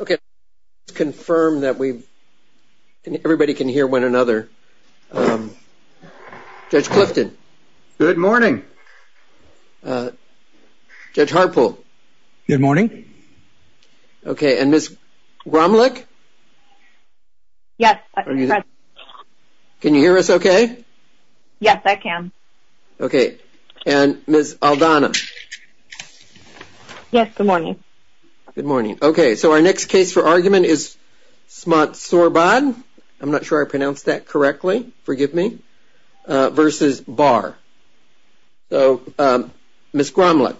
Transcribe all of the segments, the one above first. Okay, let's confirm that everybody can hear one another. Judge Clifton. Good morning. Judge Harpool. Good morning. Okay and Ms. Rumlich. Yes. Can you hear us okay? Yes I can. Okay and Ms. Aldana. Yes good morning. Good morning. Okay so our next case for argument is Smatsorabudh. I'm not sure I pronounced that correctly forgive me versus Barr. So Ms. Gromlich.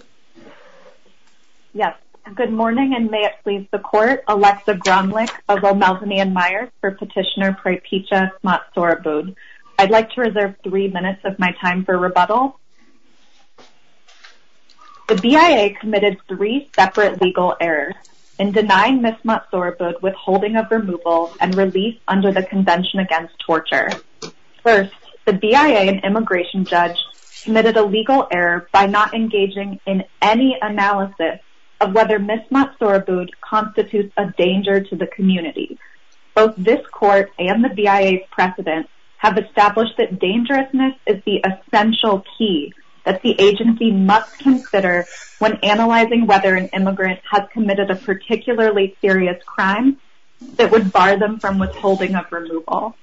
Yes good morning and may it please the court Alexa Gromlich of O'Malvaney and Myers for petitioner Preepitcha Smatsorabudh. I'd like to reserve three minutes of my time for rebuttal. The BIA committed three separate legal errors in denying Ms. Smatsorabudh withholding of removal and release under the Convention Against Torture. First, the BIA and immigration judge submitted a legal error by not engaging in any analysis of whether Ms. Smatsorabudh constitutes a danger to the community. Both this court and the BIA's precedent have established that dangerousness is the essential key that the agency must consider when analyzing whether an immigrant has committed a particularly serious crime that would bar them from withholding of removal.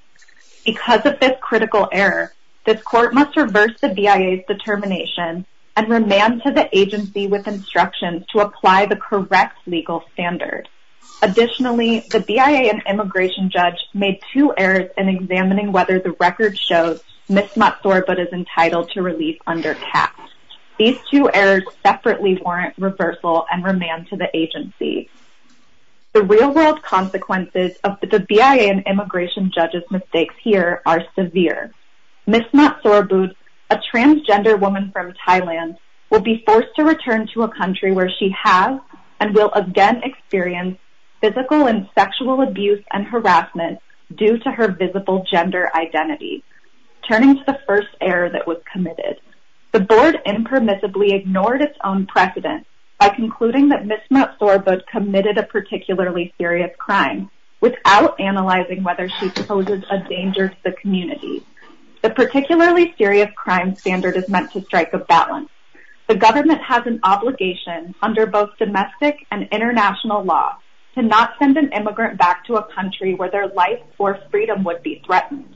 Because of this critical error, this court must reverse the BIA's determination and remand to the agency with instructions to apply the correct legal standard. Additionally, the BIA and immigration judge made two errors in examining whether the record shows Ms. Smatsorabudh is entitled to release under CAP. These two errors separately warrant reversal and remand to the agency. The real-world consequences of the BIA and immigration judge's mistakes here are severe. Ms. Smatsorabudh, a transgender woman from Thailand, will be again experienced physical and sexual abuse and harassment due to her visible gender identity, turning to the first error that was committed. The board impermissibly ignored its own precedent by concluding that Ms. Smatsorabudh committed a particularly serious crime without analyzing whether she poses a danger to the community. The particularly serious crime standard is meant to strike a balance. The government has an obligation under both domestic and international law to not send an immigrant back to a country where their life or freedom would be threatened.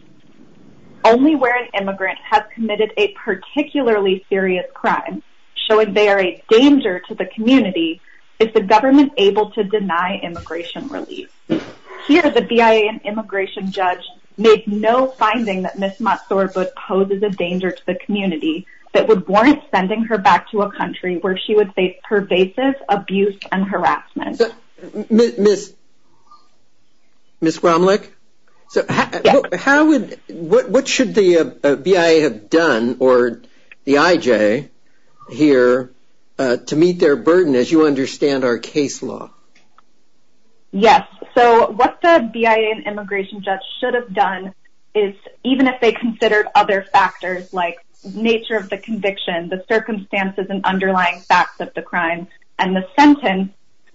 Only where an immigrant has committed a particularly serious crime, showing they are a danger to the community, is the government able to deny immigration release. Here, the BIA and immigration judge made no finding that Ms. Smatsorabudh poses a danger to the community that would warrant sending her back to a country where she would face pervasive abuse and harassment. Ms. Gromlich, what should the BIA have done, or the IJ, here to meet their burden as you understand our case law? Yes, so what the BIA and immigration judge should have done is, even if they considered other factors like nature of the conviction, the circumstances and the sentence,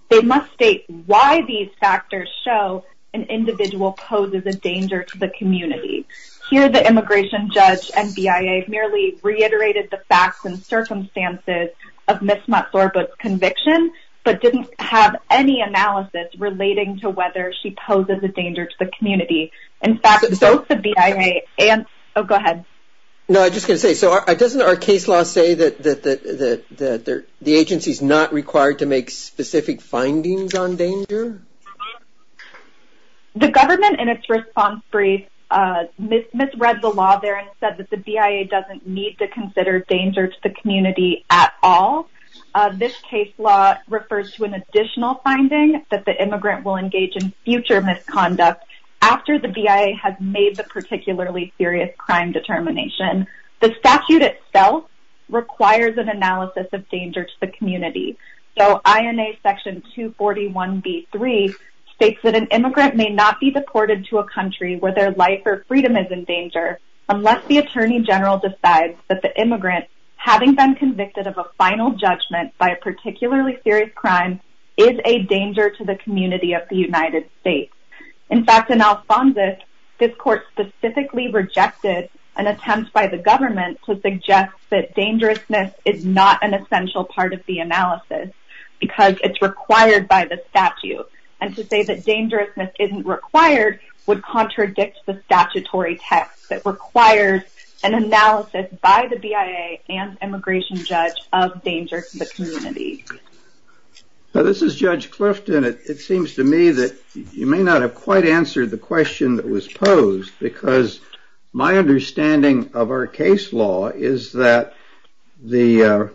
they must state why these factors show an individual poses a danger to the community. Here, the immigration judge and BIA merely reiterated the facts and circumstances of Ms. Smatsorabudh's conviction, but didn't have any analysis relating to whether she poses a danger to the community. In fact, both the BIA and... Oh, go ahead. No, I was just going to say, so doesn't our case law say that the agency's not required to make specific findings on danger? The government, in its response brief, misread the law there and said that the BIA doesn't need to consider danger to the community at all. This case law refers to an additional finding that the immigrant will engage in future misconduct after the BIA has made the particularly serious crime determination. The statute itself requires an analysis of danger to the community. So, INA Section 241b3 states that an immigrant may not be deported to a country where their life or freedom is in danger unless the attorney general decides that the immigrant, having been convicted of a final judgment by a particularly serious crime, is a danger to the community of the United States. In fact, in Alphonsus, this court specifically rejected an attempt by the government to suggest that dangerousness is not an essential part of the analysis because it's required by the statute. And to say that dangerousness isn't required would contradict the statutory text that requires an analysis by the BIA and immigration judge of danger to the community. Now, this is Judge Clifton. It seems to me that you may not have quite answered the question that was posed because my understanding of our case law is that the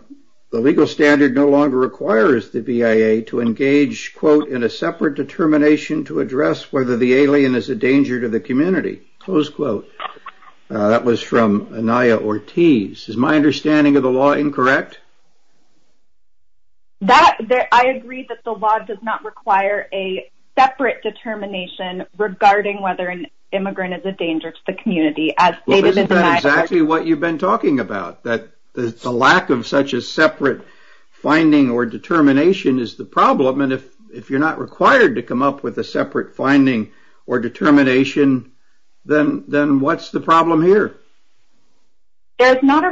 legal standard no longer requires the BIA to engage, quote, in a separate determination to address whether the alien is a danger to the community, close quote. That was from Anaya Ortiz. Is my understanding of the law incorrect? I agree that the law does not require a separate determination regarding whether an immigrant is a danger to the community. Isn't that exactly what you've been talking about? That the lack of such a separate finding or determination is the problem, and if you're not required to come up with a separate finding or determination, then what's the problem here? There's not a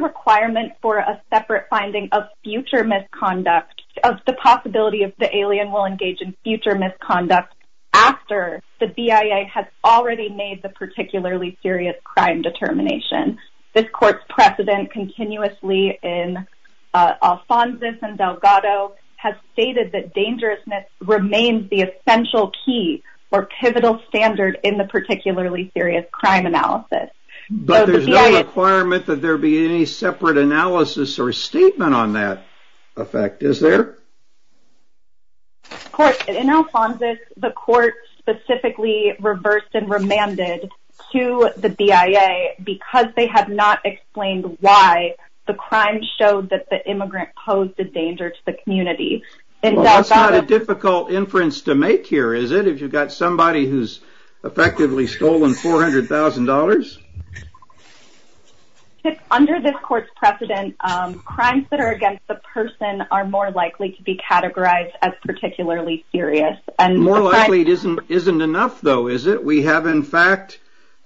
separate finding of future misconduct, of the possibility of the alien will engage in future misconduct after the BIA has already made the particularly serious crime determination. This court's precedent continuously in Alphonsus and Delgado has stated that dangerousness remains the essential key or pivotal standard in the particularly serious crime analysis. But there's no requirement that there be any separate analysis or statement on that effect, is there? In Alphonsus, the court specifically reversed and remanded to the BIA because they have not explained why the crime showed that the immigrant posed a danger to the community. That's not a difficult inference to make here, is it? If you've got somebody who's effectively stolen $400,000. Under this court's precedent, crimes that are against the person are more likely to be categorized as particularly serious. More likely isn't enough, though, is it? We have, in fact,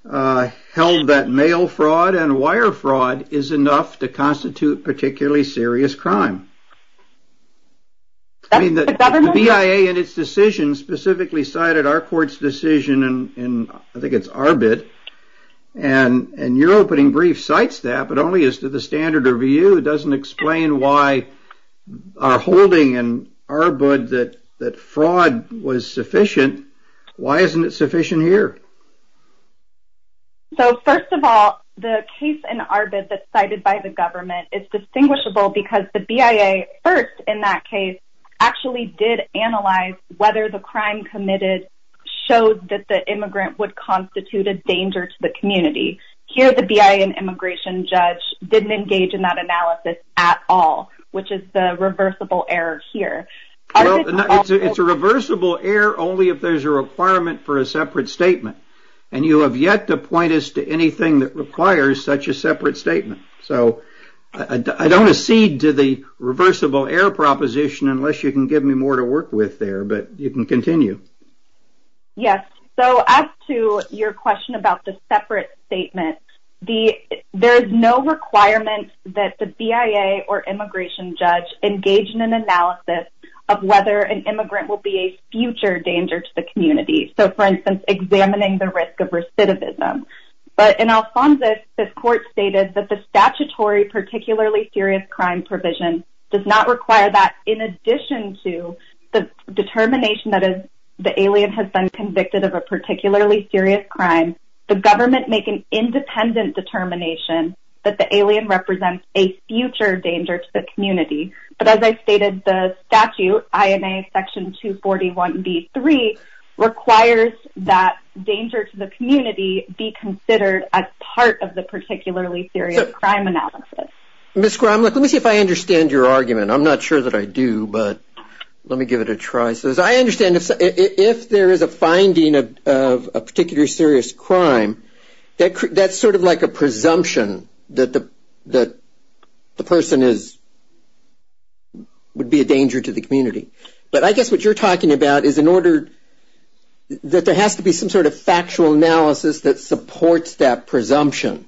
held that mail fraud and wire fraud is enough to constitute particularly serious crime. The BIA in its decision specifically cited our court's decision in, I think it's Arbid, and your opening brief cites that, but only as to the standard review. It doesn't explain why our holding in Arbid that fraud was sufficient. Why isn't it sufficient here? First of all, the case in Arbid that's cited by the government is distinguishable because the BIA, first in that case, actually did analyze whether the crime committed showed that the immigrant would constitute a danger to the community. Here, the BIA immigration judge didn't engage in that analysis at all, which is the reversible error here. It's a reversible error only if there's a requirement for a separate statement, and you have yet to point us to anything that requires such a separate statement. So, I don't accede to the reversible error proposition unless you can give me more to work with there, but you can continue. Yes. So, as to your question about the separate statement, there is no requirement that the BIA or immigration judge engage in an analysis of whether an immigrant will be a future danger to the community. So, for instance, examining the risk of recidivism. But in Alphonsus, the court stated that the statutory particularly serious crime provision does not require that. In addition to the determination that the alien has been convicted of a particularly serious crime, the government make an independent But as I stated, the statute, INA section 241b-3, requires that danger to the community be considered as part of the particularly serious crime analysis. Ms. Gromlich, let me see if I understand your argument. I'm not sure that I do, but let me give it a try. So, as I understand, if there is a finding of a particular serious crime, that's sort of like a presumption that the person is, would be a danger to the community. But I guess what you're talking about is in order, that there has to be some sort of factual analysis that supports that presumption.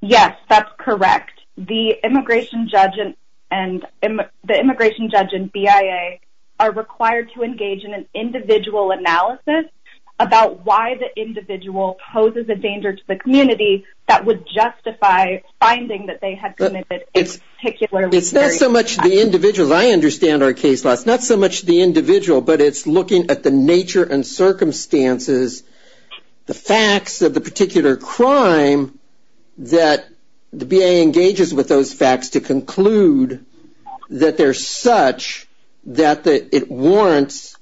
Yes, that's correct. The immigration judge and the immigration judge and BIA are required to engage in an individual analysis about why the individual poses a danger to the community that would It's not so much the individual, I understand our case law, it's not so much the individual, but it's looking at the nature and circumstances, the facts of the particular crime that the BIA engages with those facts to conclude that they're such that it warrants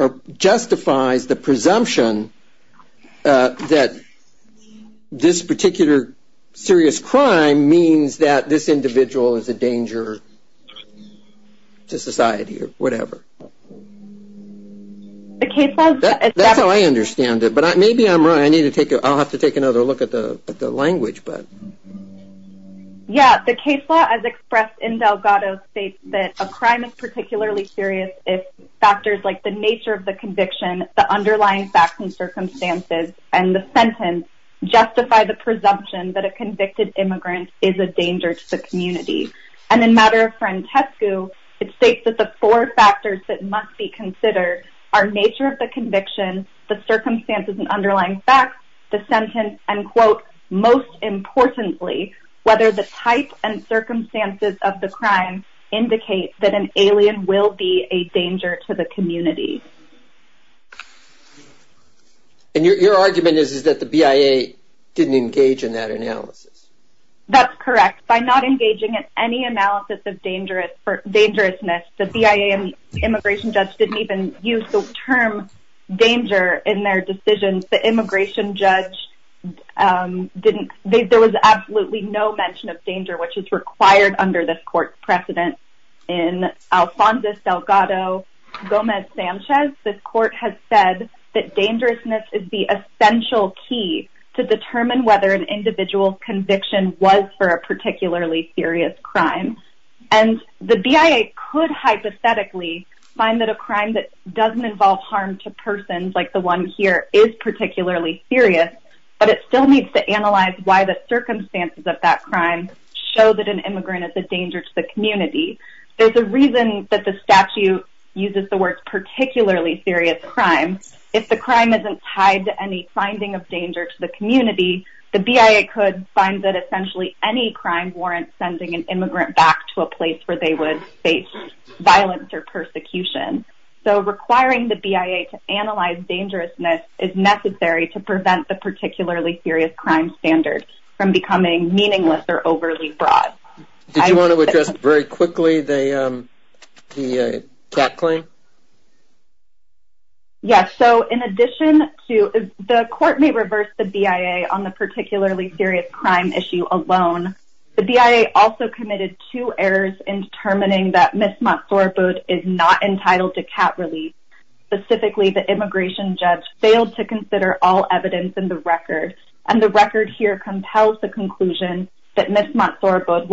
or justifies the presumption that this particular serious crime means that this individual is a danger to society or whatever. That's how I understand it, but maybe I'm wrong. I'll have to take another look at the language. Yeah, the case law as expressed in Delgado states that a crime is particularly serious if factors like the nature of the conviction, the that a convicted immigrant is a danger to the community. And in matter of Francesco, it states that the four factors that must be considered are nature of the conviction, the circumstances and underlying facts, the sentence, and quote, most importantly, whether the type and circumstances of the crime indicate that an alien will be a danger to the community. And your argument is that the BIA didn't engage in that analysis. That's correct. By not engaging in any analysis of dangerousness, the BIA immigration judge didn't even use the term danger in their decisions. The immigration judge didn't. There was absolutely no mention of danger, which is required under this court precedent. In Alphonsus Delgado Gomez Sanchez, the court has said that dangerousness is the essential key to determine whether an individual conviction was for a particularly serious crime. And the BIA could hypothetically find that a crime that doesn't involve harm to persons like the one here is particularly serious, but it still needs to analyze why the circumstances of that crime show that an immigrant is a danger to the community. There's a reason that the statute uses the words particularly serious crime. If the crime isn't tied to any finding of danger to the community, the BIA could find that essentially any crime warrants sending an immigrant back to a place where they would face violence or persecution. So requiring the BIA to analyze dangerousness is necessary to prevent the particularly serious crime standard from becoming meaningless or overly broad. Did you want to address very quickly the cat claim? Yes. So in addition to the court may reverse the BIA on the particularly serious crime issue alone, the BIA also committed two errors in determining that Ms. Montsoraboud is not entitled to cat release. Specifically, the immigration judge failed to consider all evidence in the record. And the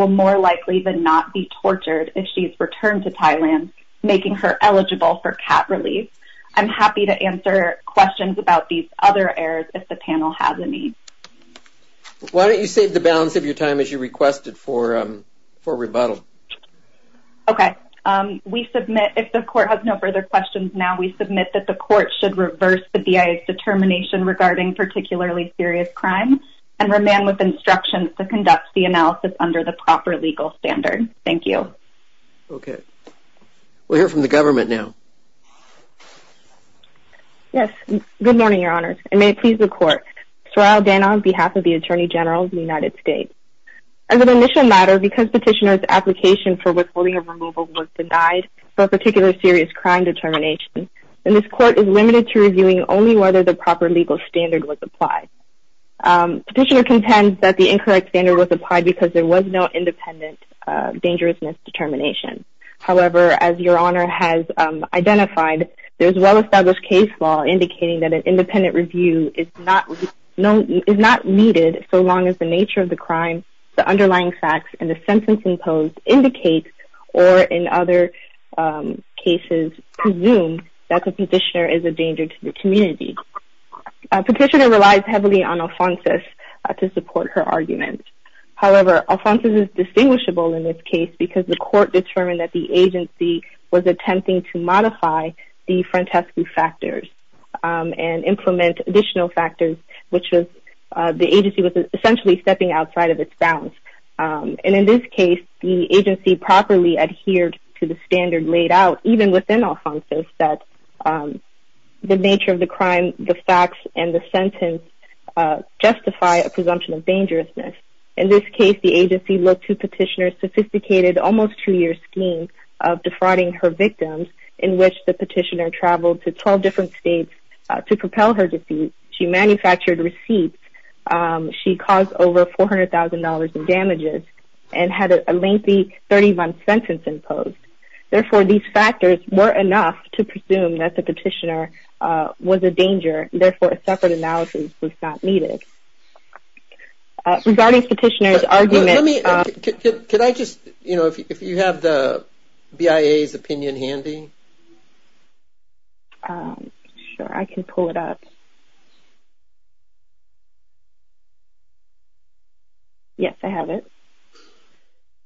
more likely than not be tortured if she's returned to Thailand, making her eligible for cat release. I'm happy to answer questions about these other errors if the panel has any. Why don't you save the balance of your time as you requested for rebuttal? Okay, we submit if the court has no further questions now, we submit that the court should reverse the BIA's determination regarding particularly serious crime and remain with instructions to conduct the analysis under the proper legal standard. Thank you. Okay. We'll hear from the government now. Yes. Good morning, your honor. And may it please the court. Sorrel Dana on behalf of the Attorney General of the United States. As an initial matter because petitioner's application for withholding of removal was denied for a particularly serious crime determination, then this court is limited to reviewing only whether the proper legal standard was applied. Petitioner intends that the incorrect standard was applied because there was no independent dangerousness determination. However, as your honor has identified, there's well-established case law indicating that an independent review is not needed so long as the nature of the crime, the underlying facts, and the sentence imposed indicates or in other cases presumed that the petitioner is a danger to the community. Petitioner relies heavily on the court to support her argument. However, Alfonso's is distinguishable in this case because the court determined that the agency was attempting to modify the Frantescu factors and implement additional factors, which was the agency was essentially stepping outside of its bounds. And in this case, the agency properly adhered to the standard laid out even within Alfonso's that the nature of the crime, the facts, and the dangerousness. In this case, the agency looked to petitioner's sophisticated almost two-year scheme of defrauding her victims in which the petitioner traveled to 12 different states to propel her defeat. She manufactured receipts. She caused over $400,000 in damages and had a lengthy 30-month sentence imposed. Therefore, these factors were enough to presume that the petitioner was a danger. Therefore, a separate analysis was not needed. Regarding petitioner's argument... Could I just, you know, if you have the BIA's opinion handy? Sure, I can pull it up. Yes, I have it.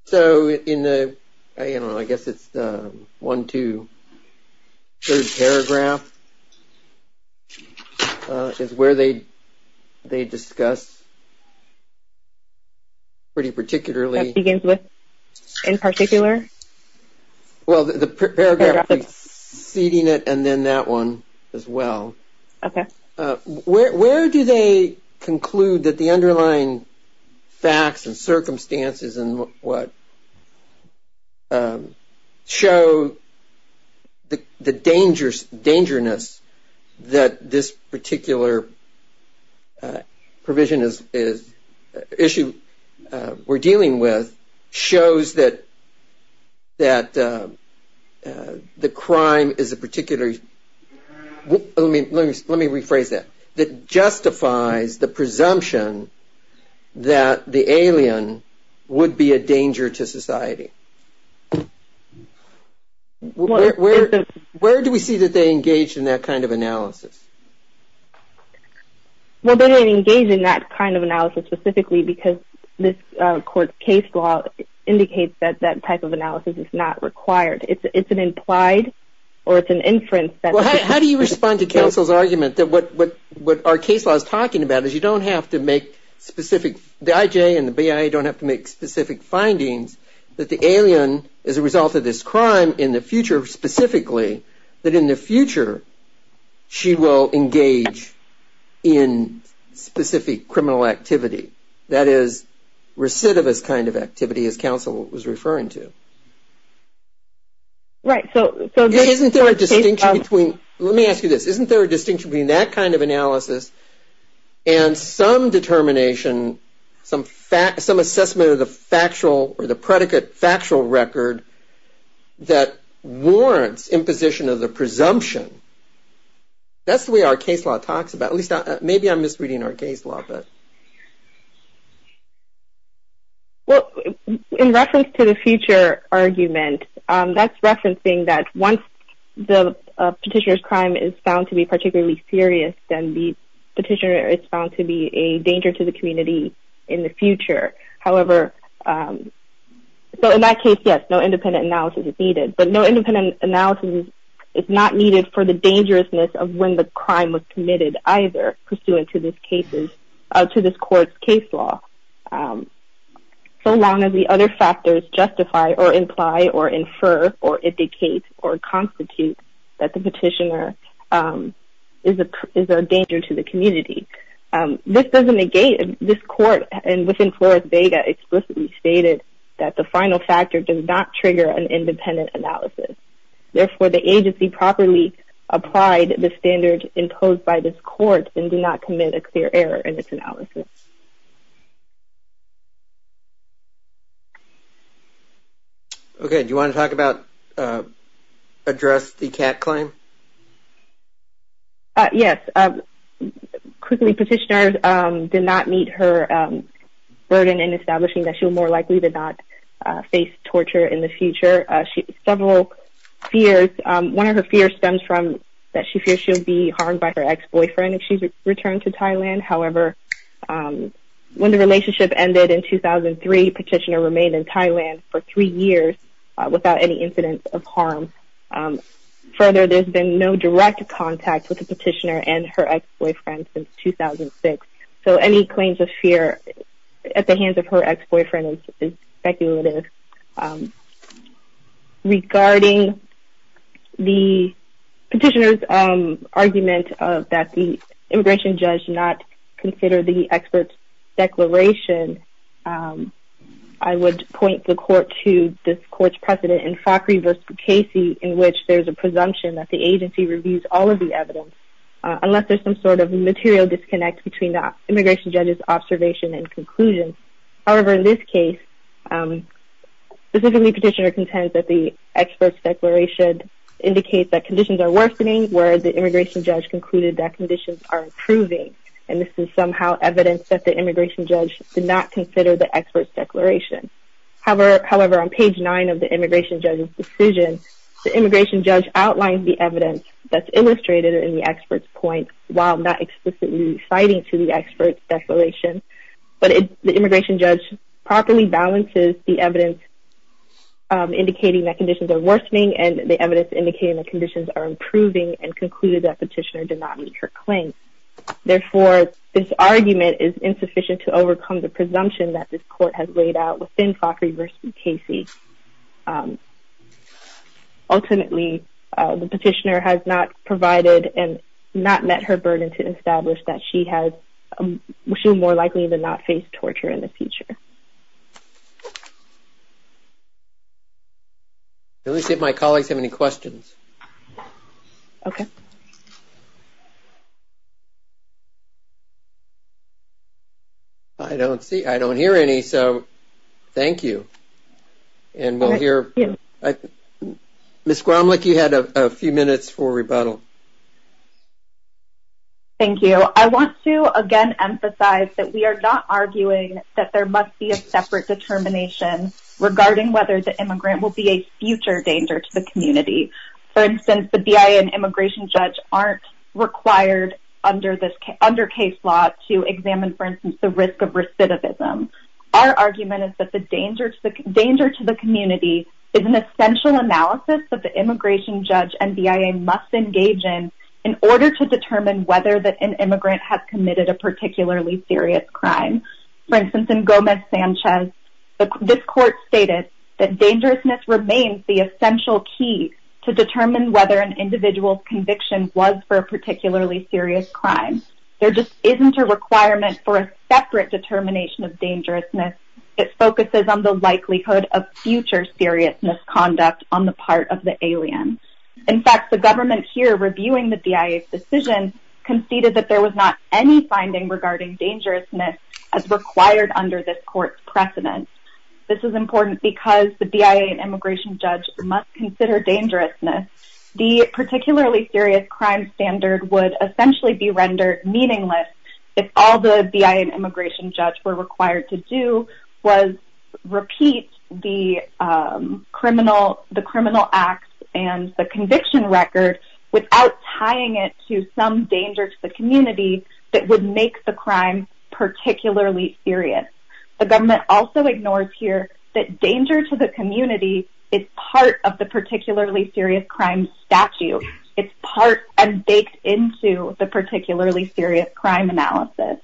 So, in the, I don't know, I guess it's 1, 2, 3rd paragraph is where they discuss pretty particularly... That begins with, in particular? Well, the paragraph preceding it and then that one as well. Okay. Where do they conclude that the underlying facts and circumstances and what show the dangerousness that this particular provision is, issue we're dealing with shows that the crime is a particular... Let me rephrase that. That justifies the presumption that the alien would be a danger to society. Where do we see that they engage in that kind of analysis? Well, they didn't engage in that kind of analysis specifically because this court's case law indicates that that type of analysis is not required. It's an implied or it's an inference that... Well, how do you respond to counsel's argument that what our case law is talking about is you don't have to make specific... The IJ and the BIA don't have to make specific findings that the alien is a result of this crime in the future specifically, that in the future she will engage in specific criminal activity. That is recidivist kind of activity as counsel was referring to. Right, so... Isn't there a distinction between... Let me ask you this. Isn't there a distinction between that kind of analysis and some determination, some assessment of the factual or the predicate factual record that warrants imposition of the presumption? That's the way our case law talks about... Maybe I'm misreading our case law, but... Well, in reference to the future argument, that's referencing that once the petitioner's crime is found to be particularly serious, then the petitioner is found to be a danger to the community in the future. However, so in that case, yes, no independent analysis is needed. But no independent analysis is not needed for the dangerousness of when the crime was committed either pursuant to this case law. So long as the other factors justify or imply or infer or indicate or constitute that the petitioner is a danger to the community. This doesn't negate... This court and within Flores-Vega explicitly stated that the final factor does not trigger an independent analysis. Therefore, the agency properly applied the standard imposed by this court and did not commit a clear error in its analysis. Okay. Do you want to talk about address the cat claim? Yes. Quickly, petitioners did not meet her burden in establishing that she'll more likely to not face torture in the future. Several fears... One of her fears stems from that she fears she'll be harmed by her ex-boyfriend if she's returned to Thailand. However, when the relationship ended in 2003, petitioner remained in Thailand for three years without any incidents of harm. Further, there's been no direct contact with the petitioner and her ex-boyfriend since 2006. So any claims of fear at the hands of her ex-boyfriend is speculative. Regarding the petitioner's argument that the immigration judge not consider the expert's declaration, I would point the court to this court's precedent in Fockery v. Casey in which there's a presumption that the agency reviews all of the evidence unless there's some sort of material disconnect between the immigration judge's observation and conclusion. However, in this case, specifically petitioner contends that the expert's declaration indicates that conditions are worsening where the immigration judge concluded that conditions are improving. And this is somehow evidence that the immigration judge did not consider the expert's declaration. However, on page 9 of the immigration judge's decision, the immigration judge outlines the evidence that's illustrated in the expert's point while not explicitly citing to the expert's declaration. But the immigration judge properly balances the evidence indicating that conditions are worsening and the evidence indicating that conditions are improving and concluded that petitioner did not meet her claim. Therefore, this argument is insufficient to overcome the presumption that this court has laid out within Fockery v. Casey. Ultimately, the petitioner has not provided and not met her burden to establish that she has, she will more likely than not face torture in the future. Let me see if my colleagues have any questions. Okay. I don't see, I don't hear any, so thank you. And we'll hear. Ms. Gromlich, you had a few minutes for rebuttal. Thank you. I want to again emphasize that we are not arguing that there must be a separate determination regarding whether the immigrant will be a future danger to the community. For instance, the BIA and immigration judge aren't required under case law to examine, for instance, the risk of recidivism. Our argument is that the danger to the community is an essential analysis that the immigration judge and BIA must engage in in order to determine whether an immigrant has committed a particularly serious crime. For instance, in Gomez-Sanchez, this court stated that dangerousness remains the essential key to determine whether an individual's conviction was for a particularly serious crime. There just isn't a requirement for a separate determination of dangerousness. It focuses on the likelihood of future seriousness conduct on the part of the alien. In fact, the government here reviewing the BIA's decision conceded that there was not any finding regarding dangerousness as required under this court's precedence. This is important because the BIA and immigration judge must consider dangerousness. The particularly serious crime standard would essentially be rendered meaningless if all the BIA and immigration judge were required to do was repeat the criminal acts and the conviction record without tying it to some danger to the community that would make the crime particularly serious. The government also ignores here that danger to the community is part of the particularly serious crime statute. It's part and baked into the particularly serious crime analysis.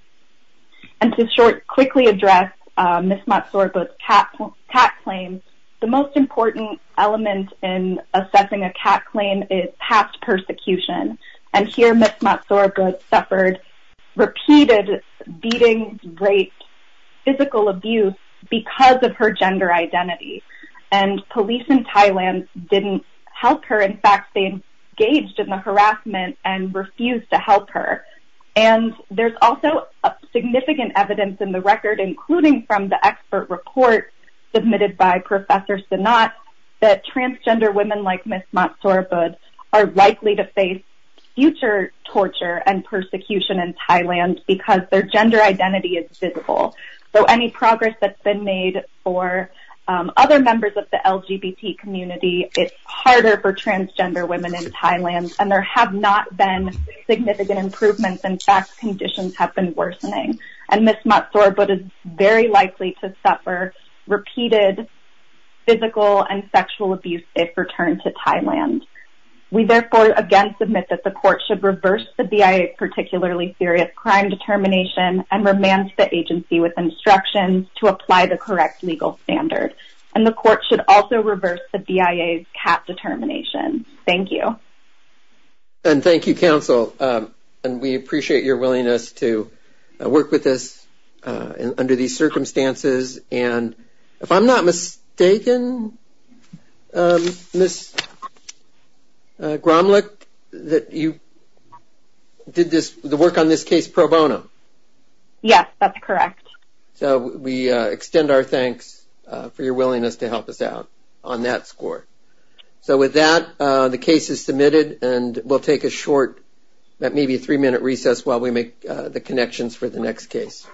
And to quickly address Ms. Matsuraba's CAT claim, the most important element in assessing a CAT claim is past persecution. And here Ms. Matsuraba suffered repeated beating, rape, physical abuse because of her gender identity. And police in Thailand didn't help her. In fact, they engaged in the harassment and refused to help her. And there's also significant evidence in the record, including from the expert report submitted by Professor Sinat, that transgender women like Ms. Matsuraba are likely to face future torture and persecution in Thailand because their gender identity is visible. So any progress that's been made for other members of the LGBT community, it's harder for transgender women in Thailand. And there have not been significant improvements. In fact, conditions have been worsening. And Ms. Matsuraba is very likely to suffer repeated physical and sexual abuse if returned to Thailand. We therefore again submit that the court should reverse the BIA's particularly serious crime determination and remand the agency with instructions to apply the correct legal standard. And the court should also reverse the BIA's CAT determination. Thank you. And thank you, counsel. And we appreciate your willingness to work with us under these circumstances. And if I'm not mistaken, Ms. Gromlich, that you did the work on this case pro bono. Yes, that's correct. So we extend our thanks for your willingness to help us out on that score. So with that, the case is submitted and we'll take a short, maybe a three minute recess while we make the decision.